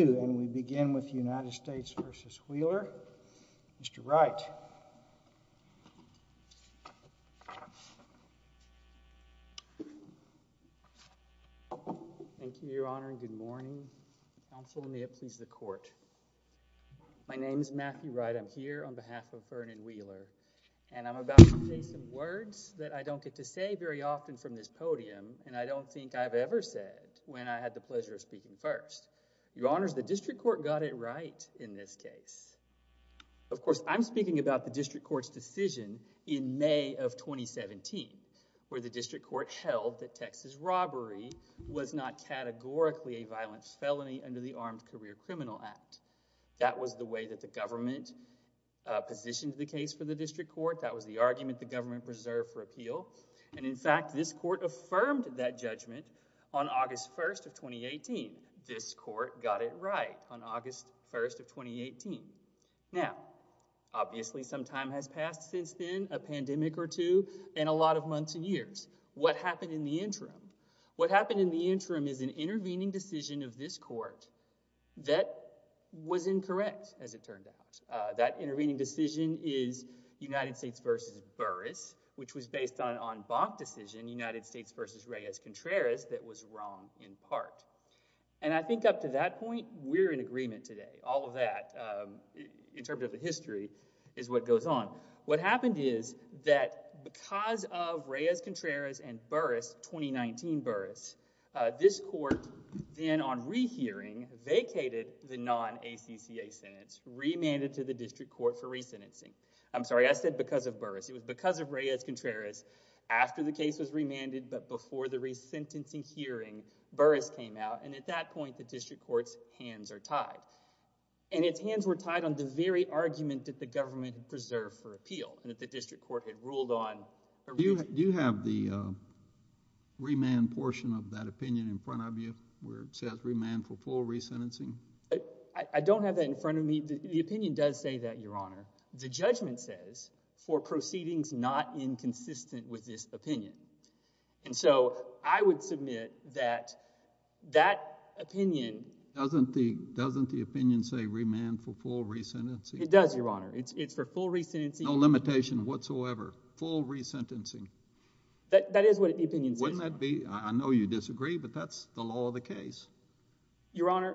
and we begin with United States v. Wheeler. Mr. Wright. Thank you, Your Honor, and good morning. Counsel in the absence of the Court, my name is Matthew Wright. I'm here on behalf of Vernon Wheeler and I'm about to say some words that I don't get to say very often from this podium and I don't think I've ever said when I had the District Court got it right in this case. Of course, I'm speaking about the District Court's decision in May of 2017, where the District Court held that Texas robbery was not categorically a violent felony under the Armed Career Criminal Act. That was the way that the government positioned the case for the District Court. That was the argument the government preserved for appeal. And in fact, this Court affirmed that judgment on on August 1st of 2018. Now, obviously, some time has passed since then, a pandemic or two, and a lot of months and years. What happened in the interim? What happened in the interim is an intervening decision of this Court that was incorrect, as it turned out. That intervening decision is United States v. Burris, which was based on Bach decision, United States v. Reyes-Contreras, that was wrong in part. And I think up to that point, we're in agreement today. All of that, in terms of the history, is what goes on. What happened is that because of Reyes-Contreras and Burris, 2019 Burris, this Court then on rehearing vacated the non-ACCA sentence, remanded to the District Court for resentencing. I'm sorry, I said because of before the resentencing hearing, Burris came out, and at that point, the District Court's hands are tied. And its hands were tied on the very argument that the government preserved for appeal, and that the District Court had ruled on. Do you have the remand portion of that opinion in front of you, where it says remand for full resentencing? I don't have that in front of me. The opinion does say that, Your Honor. The judgment says for proceedings not inconsistent with this opinion. And so, I would submit that that opinion... Doesn't the opinion say remand for full resentencing? It does, Your Honor. It's for full resentencing. No limitation whatsoever. Full resentencing. That is what the opinion says. Wouldn't that be, I know you disagree, but that's the law of the case. Your Honor,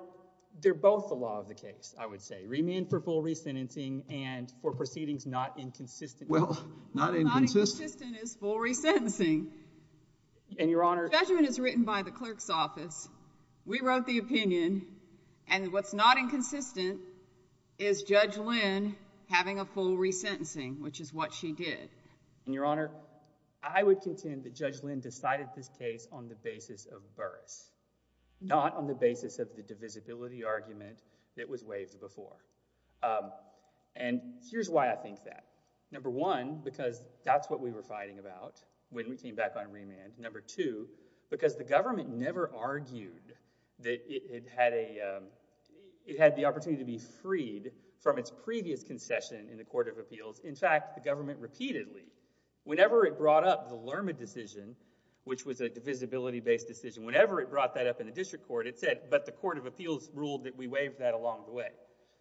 they're both the law of the case, I would say. Remand for full resentencing, and for proceedings not inconsistent with this opinion. Well, not inconsistent... Not inconsistent is full resentencing. And, Your Honor... The judgment is written by the clerk's office. We wrote the opinion, and what's not inconsistent is Judge Lynn having a full resentencing, which is what she did. And, Your Honor, I would contend that Judge Lynn decided this case on the basis of Burris, not on the basis of the divisibility argument that was waived before. And here's why I think that. Number one, because that's what we were fighting about when we came back on remand. Number two, because the government never argued that it had the opportunity to be freed from its previous concession in the Court of Appeals. In fact, the government repeatedly, whenever it brought up the Lerma decision, which was a divisibility-based decision, whenever it brought that up in the district court, it said, but the Court of Appeals ruled that we waived that along the way.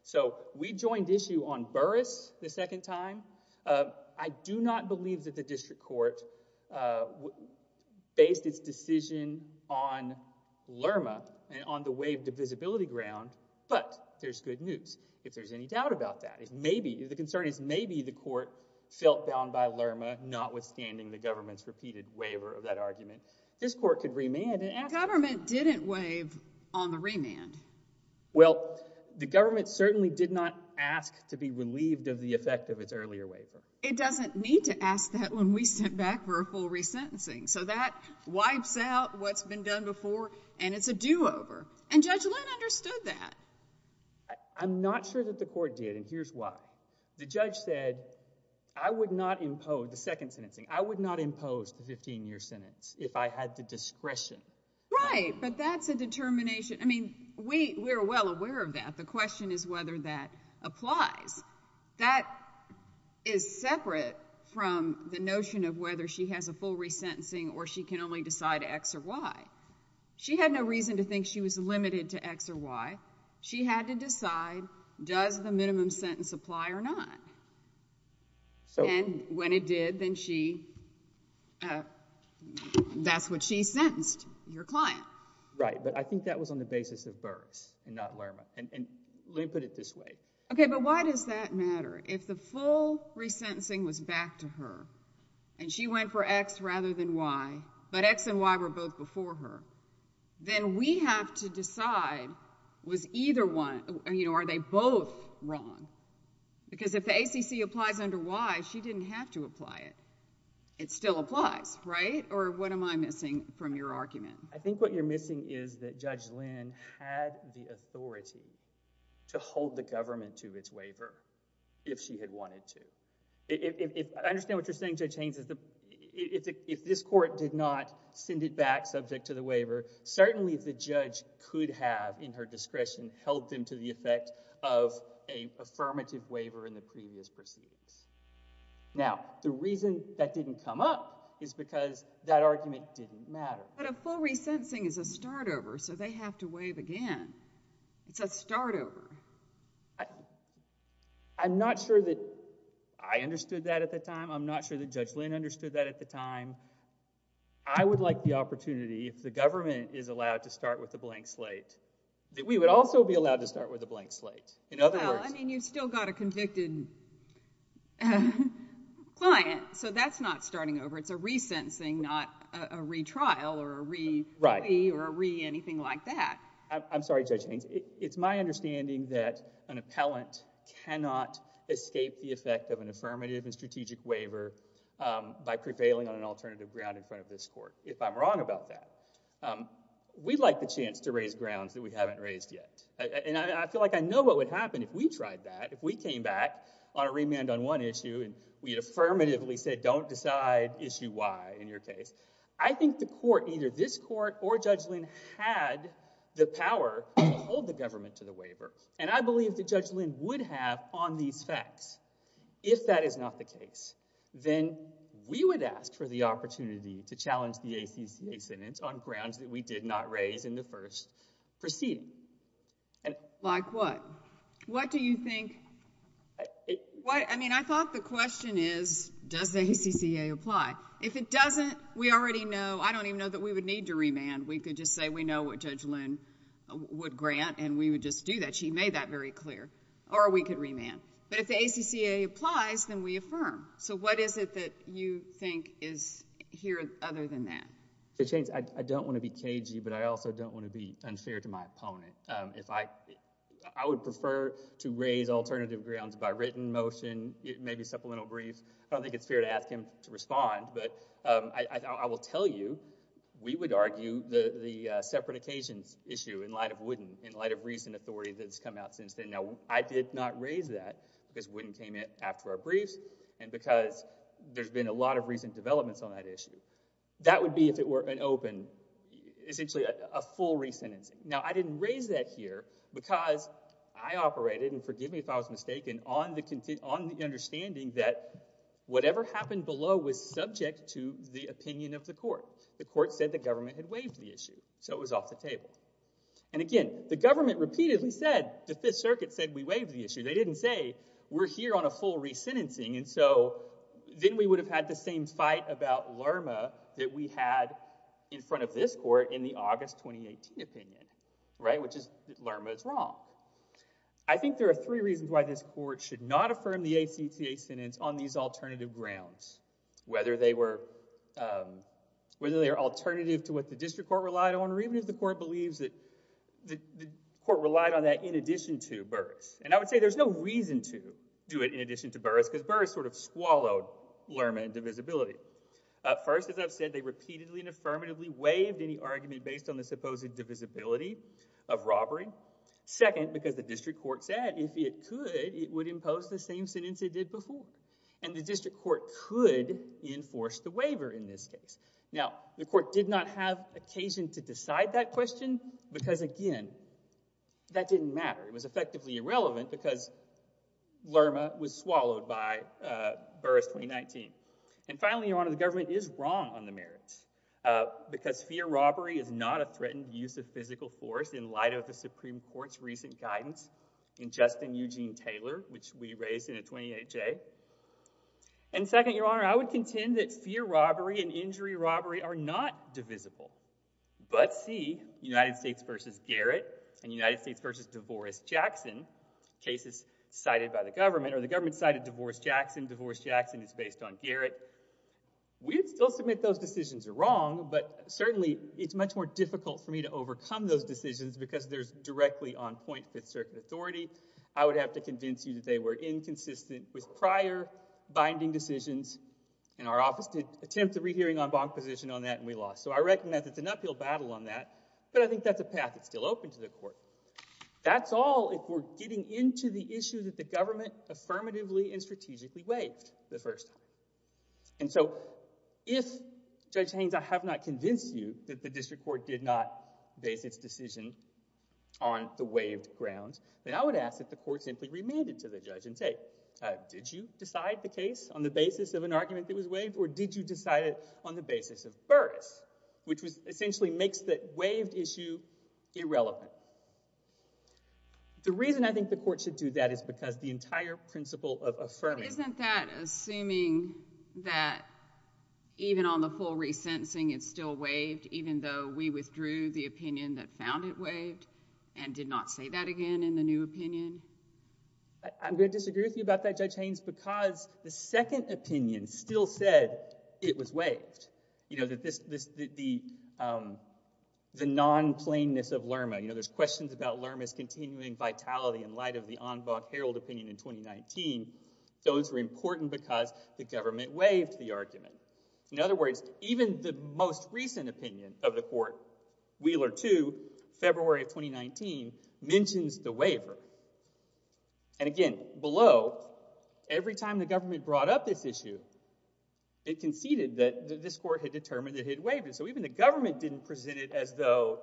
So we joined issue on Burris the second time. I do not believe that the district court based its decision on Lerma on the waived divisibility ground, but there's good news, if there's any doubt about that. The concern is maybe the court felt bound by Lerma, notwithstanding the government's decision. The government didn't waive on the remand. Well, the government certainly did not ask to be relieved of the effect of its earlier waiver. It doesn't need to ask that when we sit back for a full resentencing. So that wipes out what's been done before, and it's a do-over. And Judge Lynn understood that. I'm not sure that the court did, and here's why. The judge said, I would not impose the 15-year sentence if I had the discretion. Right, but that's a determination. I mean, we're well aware of that. The question is whether that applies. That is separate from the notion of whether she has a full resentencing or she can only decide X or Y. She had no reason to think she was limited to X or Y. She had to decide, does the minimum sentence apply or not? And when it did, then she was sentenced. That's what she sentenced, your client. Right, but I think that was on the basis of Burris and not Lerma. And Lynn put it this way. Okay, but why does that matter? If the full resentencing was back to her, and she went for X rather than Y, but X and Y were both before her, then we have to decide, was either one, you know, are they both wrong? Because if the ACC applies under Y, she didn't have to apply it. It still applies, right? Or what am I missing from your argument? I think what you're missing is that Judge Lynn had the authority to hold the government to its waiver if she had wanted to. I understand what you're saying, Judge Haynes. If this court did not send it back subject to the waiver, certainly the judge could have, in her discretion, held them to the effect of an affirmative waiver in the previous proceedings. Now the reason that didn't come up is because that argument didn't matter. But a full resentencing is a start over, so they have to waive again. It's a start over. I'm not sure that I understood that at the time. I'm not sure that Judge Lynn understood that at the time. I would like the opportunity, if the government is allowed to start with a blank slate, that we would also be allowed to start with a blank slate. In other words— Well, I mean, you've still got a convicted client, so that's not starting over. It's a resentencing, not a retrial or a re-wee or a re-anything like that. I'm sorry, Judge Haynes. It's my understanding that an appellant cannot escape the effect of an affirmative and strategic waiver by prevailing on an alternative ground in front of this court, if I'm wrong about that. We'd like the chance to raise grounds that we haven't raised yet. And I feel like I know what would happen if we tried that, if we came back on a remand on one issue and we had affirmatively said, don't decide issue Y in your case. I think the court, either this court or Judge Lynn, had the power to hold the government to the waiver. And I believe that Judge Lynn would have on these facts. If that is not the case, then we would ask for the opportunity to challenge the ACCA sentence on grounds that we did not raise in the first proceeding. Like what? What do you think—I mean, I thought the question is, does the ACCA apply? If it doesn't, we already know—I don't even know that we would need to remand. We could just say we know what Judge Lynn would grant, and we would just do that. She made that very clear. Or we could remand. But if the ACCA applies, then we affirm. So what is it that you think is here other than that? Judge Haynes, I don't want to be cagey, but I also don't want to be unfair to my opponent. If I—I would prefer to raise alternative grounds by written motion, maybe supplemental brief. I don't think it's fair to ask him to respond, but I will tell you, we would argue the separate occasions issue in light of Wooden, in light of recent authority that's there. I did not raise that because Wooden came in after our briefs, and because there's been a lot of recent developments on that issue. That would be, if it were an open—essentially a full re-sentencing. Now, I didn't raise that here because I operated—and forgive me if I was mistaken—on the understanding that whatever happened below was subject to the opinion of the court. The court said the government had waived the issue, so it was off the table. And again, the government repeatedly said, the Fifth Circuit said we waived the issue. They didn't say, we're here on a full re-sentencing, and so then we would have had the same fight about LRMA that we had in front of this court in the August 2018 opinion, right, which is that LRMA is wrong. I think there are three reasons why this court should not affirm the ACCA sentence on these alternative grounds, whether they were alternative to what the district court relied on, or even if the court believes that the court relied on that in addition to Burris. And I would say there's no reason to do it in addition to Burris, because Burris sort of swallowed LRMA and divisibility. First, as I've said, they repeatedly and affirmatively waived any argument based on the supposed divisibility of robbery. Second, because the district court said if it could, it would enforce the waiver in this case. Now, the court did not have occasion to decide that question, because again, that didn't matter. It was effectively irrelevant, because LRMA was swallowed by Burris 2019. And finally, Your Honor, the government is wrong on the merits, because fear of robbery is not a threatened use of physical force in light of the Supreme Court's recent guidance in Justin Eugene Taylor, which we raised in a 28-J. And second, Your Honor, I would contend that fear robbery and injury robbery are not divisible. But C, United States v. Garrett and United States v. Devoris-Jackson, cases cited by the government, or the government cited Devoris-Jackson, Devoris-Jackson is based on Garrett. We would still submit those decisions are wrong, but certainly it's much more difficult for me to overcome those decisions, because they're directly on point with certain authority. I would have to convince you that they were inconsistent with prior binding decisions, and our office did attempt a rehearing on bond position on that, and we lost. So I recognize it's an uphill battle on that, but I think that's a path that's still open to the court. That's all if we're getting into the issue that the government affirmatively and strategically waived the first time. And so if, Judge Haynes, I have not convinced you that the district court did not base its grounds, then I would ask that the court simply remand it to the judge and say, did you decide the case on the basis of an argument that was waived, or did you decide it on the basis of Burris, which essentially makes the waived issue irrelevant. The reason I think the court should do that is because the entire principle of affirming- Isn't that assuming that even on the full resentencing, it's still waived, even though we withdrew the opinion that found it waived and did not say that again in the new opinion? I'm going to disagree with you about that, Judge Haynes, because the second opinion still said it was waived. The non-plainness of Lerma. There's questions about Lerma's continuing vitality in light of the Envac Herald opinion in 2019. Those were important because the court, Wheeler 2, February of 2019, mentions the waiver. And again, below, every time the government brought up this issue, it conceded that this court had determined it had waived. So even the government didn't present it as though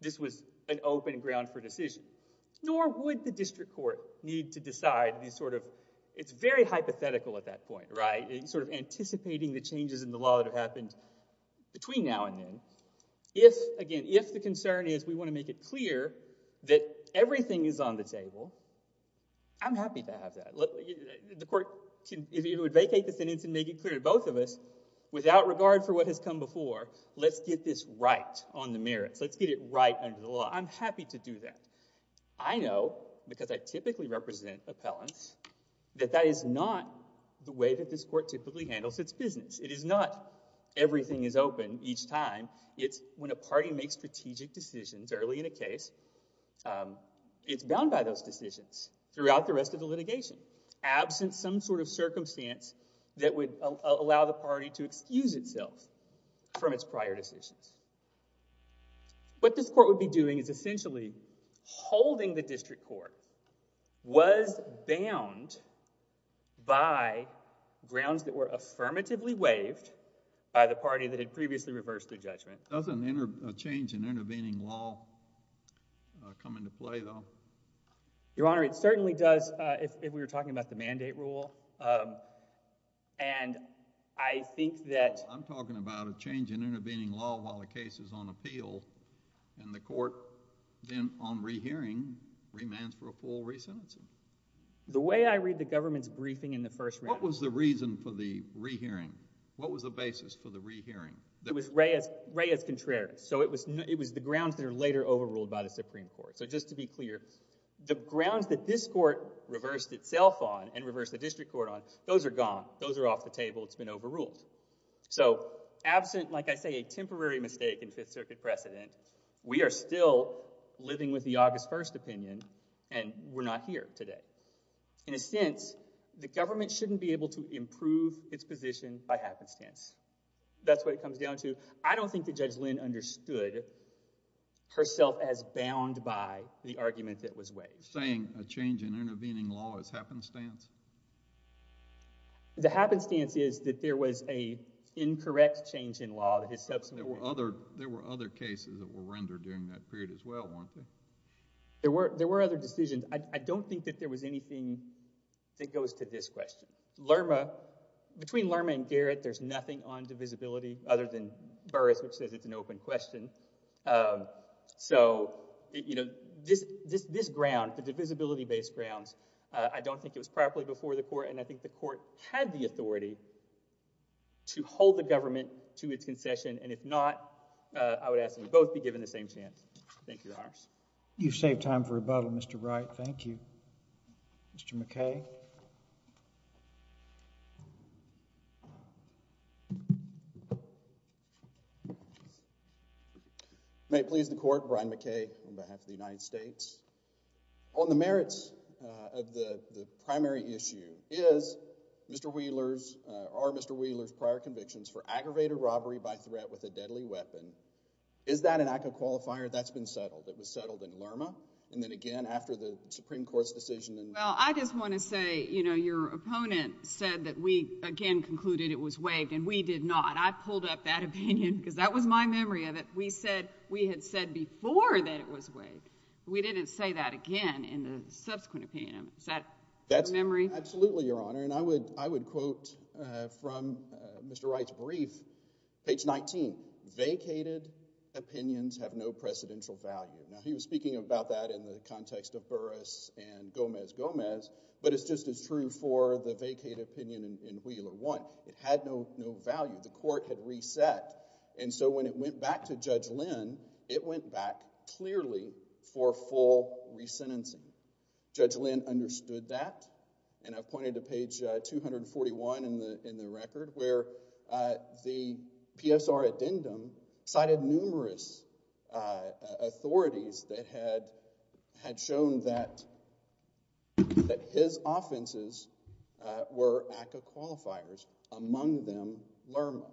this was an open ground for decision, nor would the district court need to decide the sort of- It's very hypothetical at that point, right? It's sort of anticipating the changes in the law that have happened between now and then. If, again, if the concern is we want to make it clear that everything is on the table, I'm happy to have that. The court, if it would vacate the sentence and make it clear to both of us, without regard for what has come before, let's get this right on the merits. Let's get it right under the law. I'm happy to do that. I know, because I typically represent appellants, that that is not the way that this court typically handles its business. It is not everything is open each time. It's when a party makes strategic decisions early in a case, it's bound by those decisions throughout the rest of the litigation, absent some sort of circumstance that would allow the party to excuse itself from its prior decisions. What this court would be doing is essentially holding the district court was bound by grounds that were affirmatively waived by the party that had previously reversed their judgment. Doesn't a change in intervening law come into play, though? Your Honor, it certainly does if we were talking about the mandate rule. I'm talking about a change in the mandate rule. The reason that this court reversed itself on and reversed the district court on, those are gone. Those are off the table. It's been overruled. So, absent, like I say, a temporary mistake in Fifth Circuit precedent, we are still living with the August 1st opinion and we're not here today. In a sense, the government shouldn't be able to improve its position by happenstance. That's what it comes down to. I don't think that Judge Lynn understood herself as bound by the argument that was waived. Saying a change in intervening law is happenstance? The happenstance is that there was an incorrect change in law that is subsequently. There were other cases that were rendered during that period as well, Your Honor. There were other decisions. I don't think that there was anything that goes to this question. Lerma, between Lerma and Garrett, there's nothing on divisibility other than Burris, which says it's an open question. So, you know, this ground, the divisibility based grounds, I don't think it was properly before the court and I think the court had the authority to hold the government to its concession and if not, I would ask them both to be given the same chance. Thank you, Your Honors. You've saved time for rebuttal, Mr. Wright. Thank you. Mr. McKay? May it please the Court, Brian McKay on behalf of the United States. On the merits of the primary issue, is Mr. Wheeler's, are Mr. Wheeler's prior convictions for aggravated robbery by threat with a deadly weapon, is that an act of qualifier? That's been settled. It was settled in Lerma and then again after the Supreme Court's decision and... Well, I just want to say, you know, your opponent said that we again concluded it was waived and we did not. I pulled up that opinion because that was my memory of it. We said, we had said before that it was waived. We didn't say that again in the subsequent opinion. Is that a memory? Absolutely, Your Honor, and I would quote from Mr. Wright's brief, page 19, vacated opinions have no precedential value. Now, he was speaking about that in the context of Burris and Gomez-Gomez, but it's just as true for the vacated opinion in Wheeler 1. It had no value. The court had reset and so when it went back to Judge Lynn, it went back clearly for full re-sentencing. Judge Lynn understood that and I've pointed to page 241 in the record where the PSR addendum cited numerous authorities that had shown that his offenses were act of qualifiers, among them Lerma,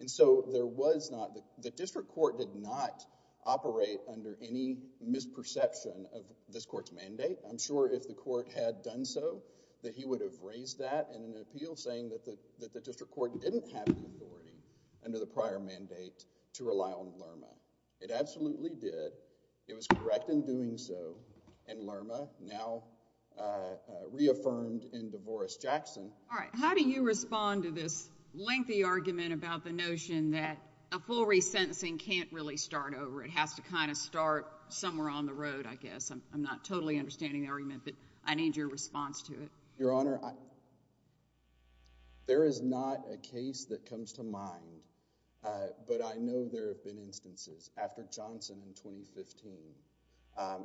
and so there was not... The district court did not operate under any misperception of this court's mandate. I'm sure if the court had done so that he would have raised that in an appeal saying that the district court didn't have the authority under the prior mandate to rely on Lerma. It absolutely did. It was correct in doing so and Lerma now reaffirmed in Devoris-Jackson. How do you respond to this lengthy argument about the notion that a full re-sentencing can't really start over? It has to kind of start somewhere on the road, I guess. I'm not totally understanding the argument, but I need your response to it. Your Honor, there is not a case that comes to mind, but I know there have been instances after Johnson in 2015.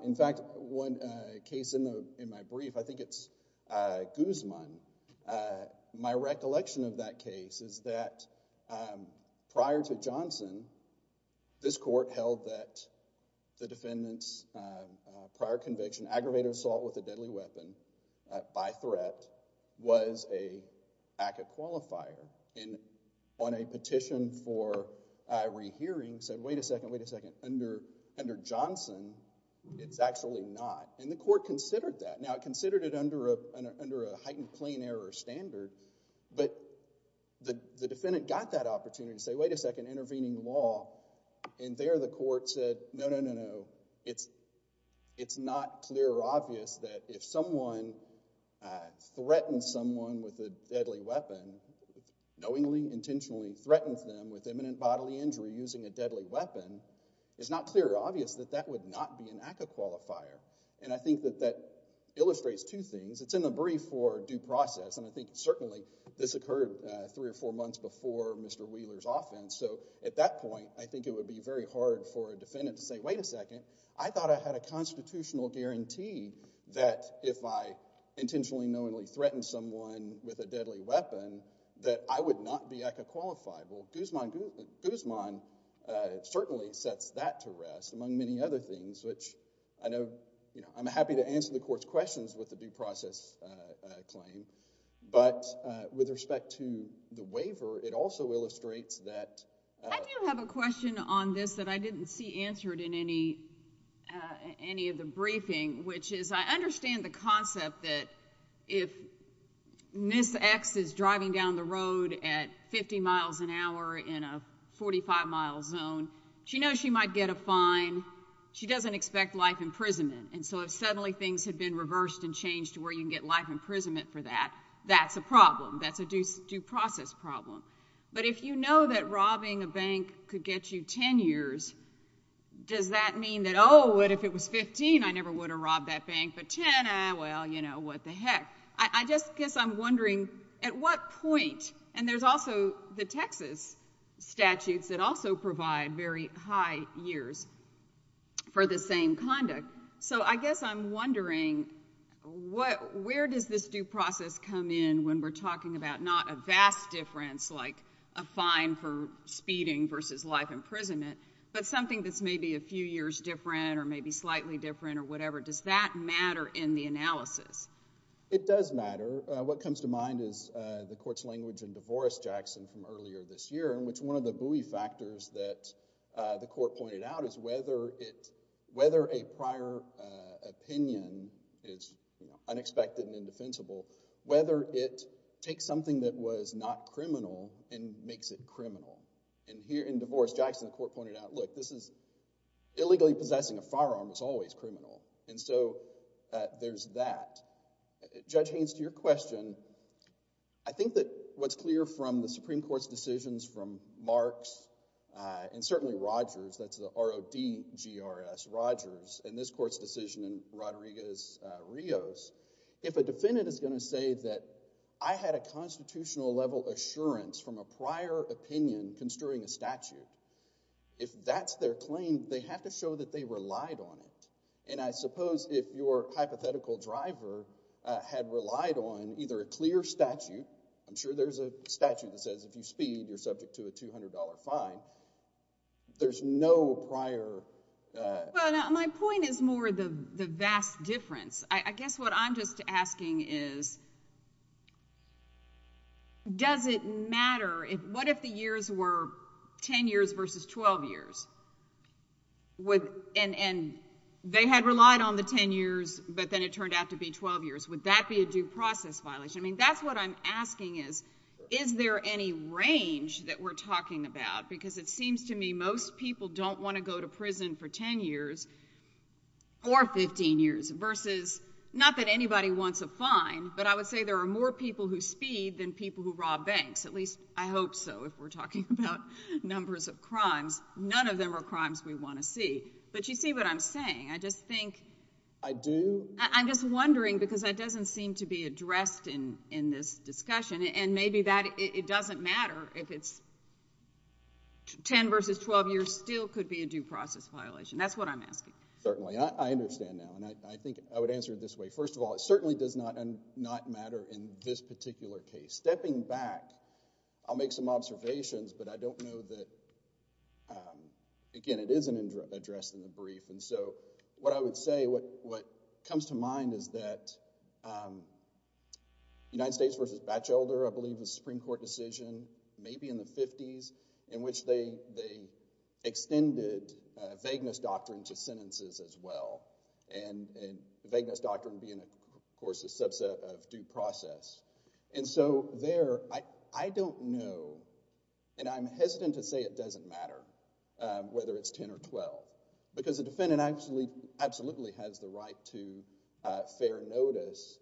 In fact, one case in my brief, I think it's Guzman, was a case my recollection of that case is that prior to Johnson, this court held that the defendant's prior conviction, aggravated assault with a deadly weapon by threat, was an act of qualifier. On a petition for a re-hearing said, wait a second, wait a second, under Johnson, it's actually not. The court considered that. Now, it considered it under a heightened plain error standard, but the defendant got that opportunity to say, wait a second, intervening law, and there the court said, no, no, no, no, it's not clear or obvious that if someone threatens someone with a deadly weapon, knowingly, intentionally threatens them with imminent bodily injury using a deadly weapon, it's not clear or obvious that that would not be an act of qualifier. I think that that illustrates two things. It's in the brief for due process, and I think certainly this occurred three or four months before Mr. Wheeler's offense, so at that point, I think it would be very hard for a defendant to say, wait a second, I thought I had a constitutional guarantee that if I intentionally, knowingly threatened someone with a deadly weapon, that I would not be act of qualifier. Well, Guzman certainly sets that to rest among many other things, which I know, you know, I'm happy to answer the court's questions with a due process claim, but with respect to the waiver, it also illustrates that... I do have a question on this that I didn't see answered in any of the briefing, which is I understand the concept that if Ms. X is driving down the road at 50 miles an hour in a 45 mile zone, she knows she might get a fine. She doesn't expect life imprisonment, and so if suddenly things had been reversed and changed to where you can get life imprisonment for that, that's a problem. That's a due process problem, but if you know that robbing a bank could get you 10 years, does that mean that, oh, what if it was 15, I never would have robbed that bank, but 10, well, you know, what the heck? I just guess I'm wondering at what point, and there's also the Texas statutes that also provide very high years for the same conduct, so I guess I'm wondering where does this due process come in when we're talking about not a vast difference, like a fine for speeding versus life imprisonment, but something that's maybe a few years different or maybe slightly different or whatever. Does that matter in the analysis? It does matter. What comes to mind is the court's language in Devoris-Jackson from earlier this year in which one of the buoy factors that the court pointed out is whether a prior opinion is unexpected and indefensible, whether it takes something that was not criminal and makes it criminal, and here in Devoris-Jackson, the court pointed out, look, this is, illegally possessing a firearm is always criminal, and so there's that. Judge Haynes, to your question, I think that what's clear from the Supreme Court's decisions from Marks and certainly Rogers, that's the R-O-D-G-R-S, Rogers, and this court's decision in Rodriguez-Rios, if a defendant is going to say that I had a constitutional level assurance from a prior opinion construing a statute, if that's their claim, they have to show that they relied on it, and I suppose if your hypothetical driver had relied on either a clear statute, I'm sure there's a statute that says if you speed, you're subject to a $200 fine, there's no prior... Well, now, my point is more the vast difference. I guess what I'm just asking is, does it matter if... What if the years were 10 years versus 12 years, and they had relied on the 10 years, but then it turned out to be 12 years? Would that be a due process violation? I mean, that's what I'm asking is, is there any range that we're talking about? Because it seems to me most people don't want to go to prison for 10 years or 15 years versus... Not that anybody wants a fine, but I would say there are more people who speed than people who rob banks, at least I hope so, if we're talking about numbers of crimes. None of them are crimes we want to see, but you see what I'm saying. I just think... I do. I'm just wondering, because that doesn't seem to be addressed in this discussion, and maybe that it doesn't matter if it's 10 versus 12 years still could be a due process violation. That's what I'm asking. Certainly. I understand now, and I think I would answer it this way. First of all, it is an address in the brief, and so what I would say, what comes to mind is that United States versus Batchelder, I believe the Supreme Court decision, maybe in the 50s, in which they extended vagueness doctrine to sentences as well, and vagueness doctrine being of course a subset of due process. There, I don't know, and I'm hesitant to say it doesn't matter whether it's 10 or 12, because the defendant absolutely has the right to fair notice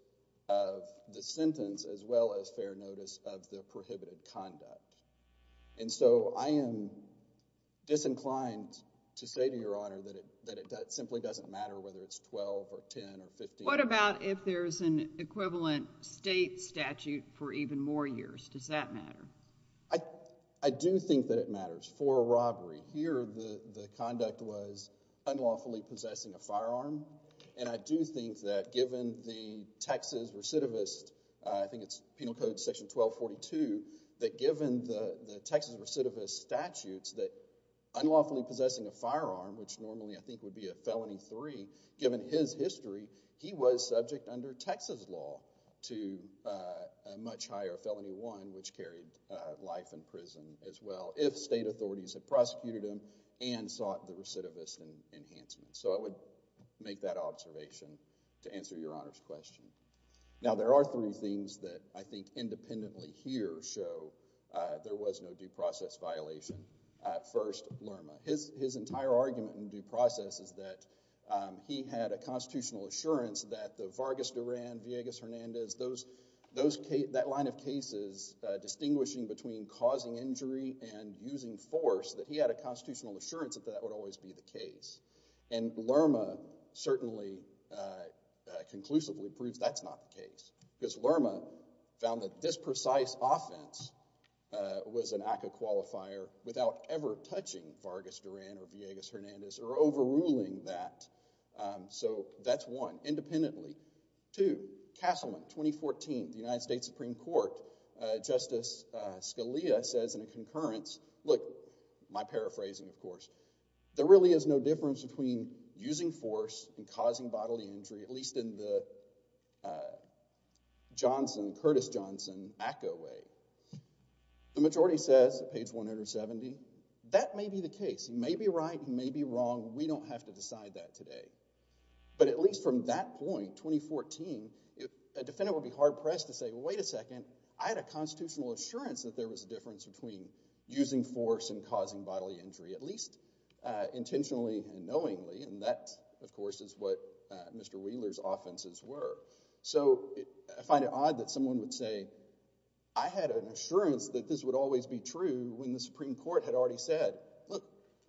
of the sentence as well as fair notice of the prohibited conduct. I am disinclined to say to Your Honor that it simply doesn't matter whether it's 12 or 10 or 15 or 12. What about if there's an equivalent state statute for even more years? Does that matter? I do think that it matters. For a robbery, here the conduct was unlawfully possessing a firearm, and I do think that given the Texas recidivist, I think it's Penal Code Section 1242, that given the Texas recidivist statutes that unlawfully possessing a firearm, which was subject under Texas law to a much higher felony, one which carried life in prison as well, if state authorities had prosecuted him and sought the recidivist enhancement. So I would make that observation to answer Your Honor's question. Now there are three things that I think independently here show there was no due process violation. First, Lerma. His entire argument in due process is that he had a constitutional assurance that the Vargas-Duran, Villegas-Hernandez, that line of cases distinguishing between causing injury and using force, that he had a constitutional assurance that that would always be the case. And Lerma certainly conclusively proves that's not the case, because Lerma found that this precise offense was an act of qualifier without ever touching Vargas-Duran or Villegas-Hernandez or overruling that. So that's one. Independently. Two, Castleman, 2014, the United States Supreme Court, Justice Scalia says in a concurrence, look, my paraphrasing of course, there really is no difference between using force and causing bodily injury, at least in the Johnson, Curtis Johnson, ACCA way. The majority says, page 170, that may be the case. It may be right, it may be wrong. We don't have to decide that today. But at least from that point, 2014, a defendant would be hard pressed to say, wait a second, I had a constitutional assurance that there was a difference between using force and causing bodily injury, at least intentionally and knowingly, and that of course is what Mr. Wheeler's offenses were. So I find it odd that someone would say, I had an assurance that this would always be true when the Supreme Court had already said, look,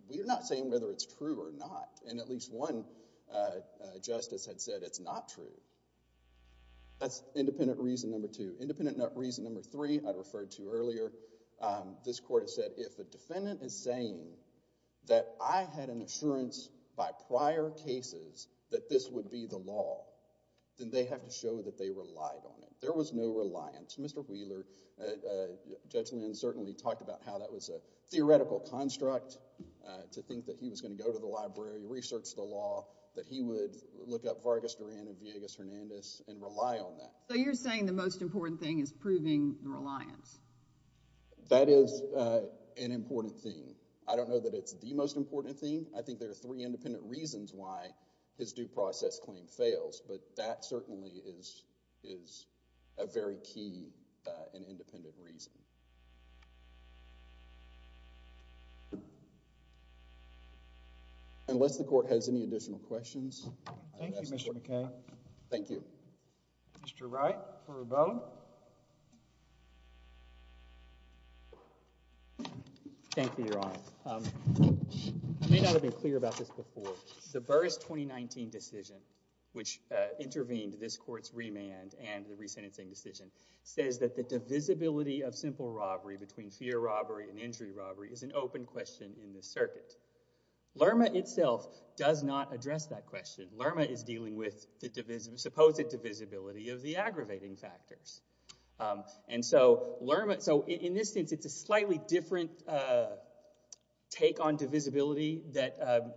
we're not saying whether it's true or not. And at least one justice had said it's not true. That's independent reason number two. Independent reason number three, I referred to earlier, this court has said, if a defendant is saying that I had an assurance by prior cases that this would be the law, then they have to show that they relied on it. There was no reliance. Mr. Wheeler, Judge Lynn certainly talked about how that was a theoretical construct to think that he was going to go to the library, research the law, that he would look up Vargas Duran and Villegas Hernandez and rely on that. So you're saying the most important thing is proving the reliance? That is an important thing. I don't know that it's the most important thing. I think there are three independent reasons why his due process claim fails, but that certainly is a very key and independent reason. Unless the court has any additional questions. Thank you, Mr. McKay. Thank you. Mr. Wright. Thank you, Your Honor. I may not have been clear about this before. The Burr's 2019 decision, which intervened this court's remand and the resentencing decision, says that the divisibility of simple robbery between fear robbery and injury robbery is an open question in this circuit. Lerma itself does not address that question. Lerma is dealing with the divisibility of the aggravating factors. In this instance, it's a slightly different take on divisibility that,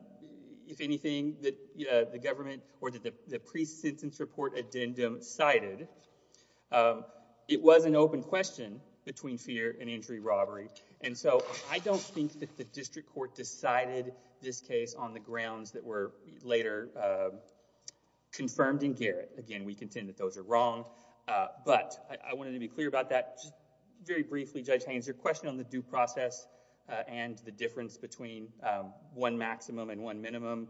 if anything, the government or the pre-sentence report addendum cited. It was an open question between fear and injury robbery. I don't think that the district court decided this case on the grounds that were later confirmed in Garrett. Again, we contend that those are wrong, but I wanted to be clear about that. Just very briefly, Judge Haynes, your question on the due process and the difference between one maximum and one minimum.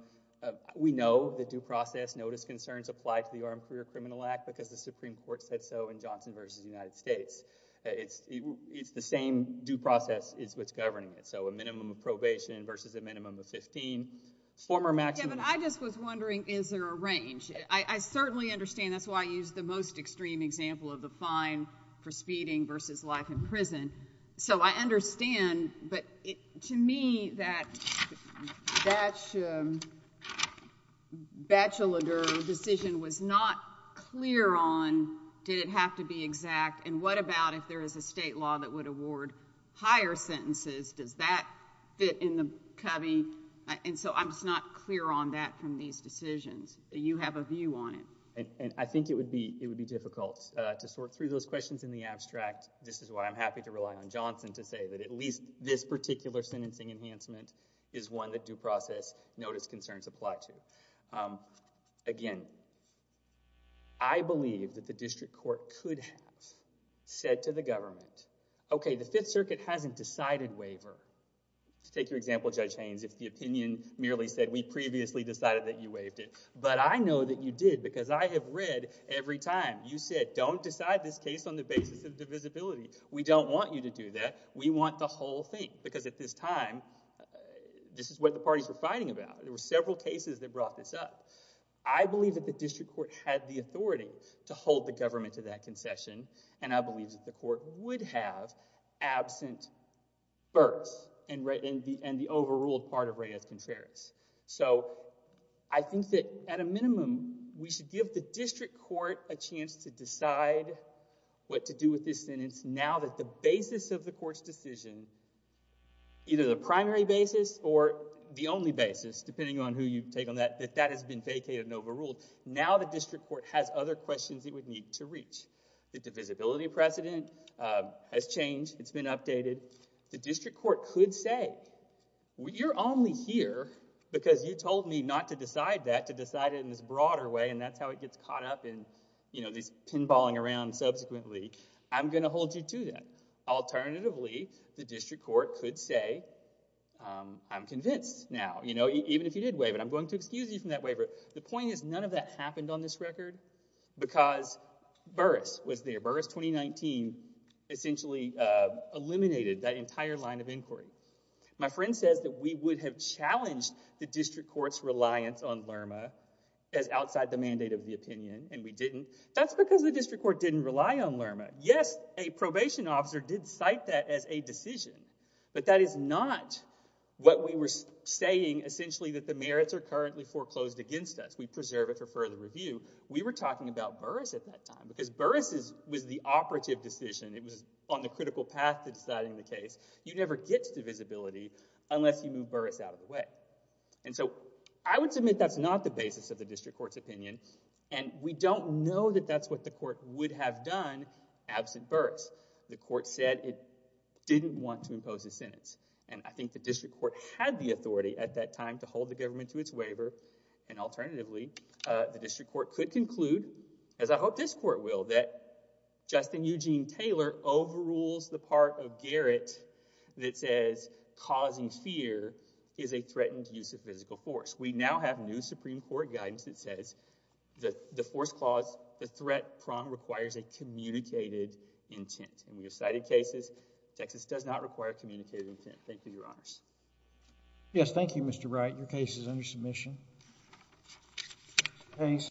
We know the due process notice concerns apply to the Armed Career Criminal Act because the Supreme Court said so in Johnson v. United States. It's the same due process is what's governing it, so a minimum of probation versus a minimum of 15. Former maximum. Kevin, I just was wondering, is there a range? I certainly understand. That's why I used the most extreme example of the fine for speeding versus life in prison. I understand, but to me, that bachelorette decision was not clear on, did it have to be exact, and what about if there is a state law that would award higher sentences? Does that fit in the cubby? I'm just not clear on that from these decisions. You have a view on it. I think it would be difficult to sort through those questions in the abstract. This is why I'm happy to rely on Johnson to say that at least this particular sentencing enhancement is one that due process notice concerns apply to. Again, I believe that the district court could have said to the government, okay, the Fifth Circuit hasn't decided waiver. Take your example, Judge Haynes. If the opinion merely said, we previously decided that you waived it, but I know that you did because I have read every time you said, don't decide this case on the basis of divisibility. We don't want you to do that. We want the whole thing because at this time, this is what the parties were fighting about. There were several cases that brought this up. I believe that the district court had the authority to hold the government to that concession, and I believe that the court would have absent birth and the overruled part of Reyes-Contreras. I think that at a minimum, we should give the district court a chance to decide what to do with this sentence now that the basis of the court's decision, either the primary basis or the only basis, depending on who you take on that, that that has been vacated and overruled. Now the district court has other questions it would need to reach. The divisibility precedent has changed. It's been updated. The district court could say, you're only here because you told me not to decide that, to decide it in this broader way, and that's how it gets caught up in, you know, this pinballing around subsequently. I'm going to hold you to that. Alternatively, the district court could say, I'm convinced now. You know, even if you did waive it, I'm going to excuse you from that waiver. The point is none of that happened on this record because Burris was there. Burris 2019 essentially eliminated that entire line of inquiry. My friend says that we would have challenged the district court's reliance on LRMA as outside the mandate of the opinion, and we didn't. That's because the district court didn't rely on LRMA. Yes, a probation officer did cite that as a decision, but that is not what we were saying essentially that the merits are currently foreclosed against us. We preserve it for further review. We were talking about Burris at that time because Burris was the operative decision. It was on the critical path to deciding the case. You never get to divisibility unless you move Burris out of the way, and so I would submit that's not the basis of the district court's opinion, and we don't know that that's what the court would have done absent Burris. The court said it didn't want to do that. The district court had the authority at that time to hold the government to its waiver, and alternatively, the district court could conclude, as I hope this court will, that Justin Eugene Taylor overrules the part of Garrett that says causing fear is a threatened use of physical force. We now have new Supreme Court guidance that says the force clause, the threat prong requires a communicated intent, and we have cited cases. Texas does not require a communicated intent. Thank you, Your Honors. Yes, thank you, Mr. Wright. Your case is under submission.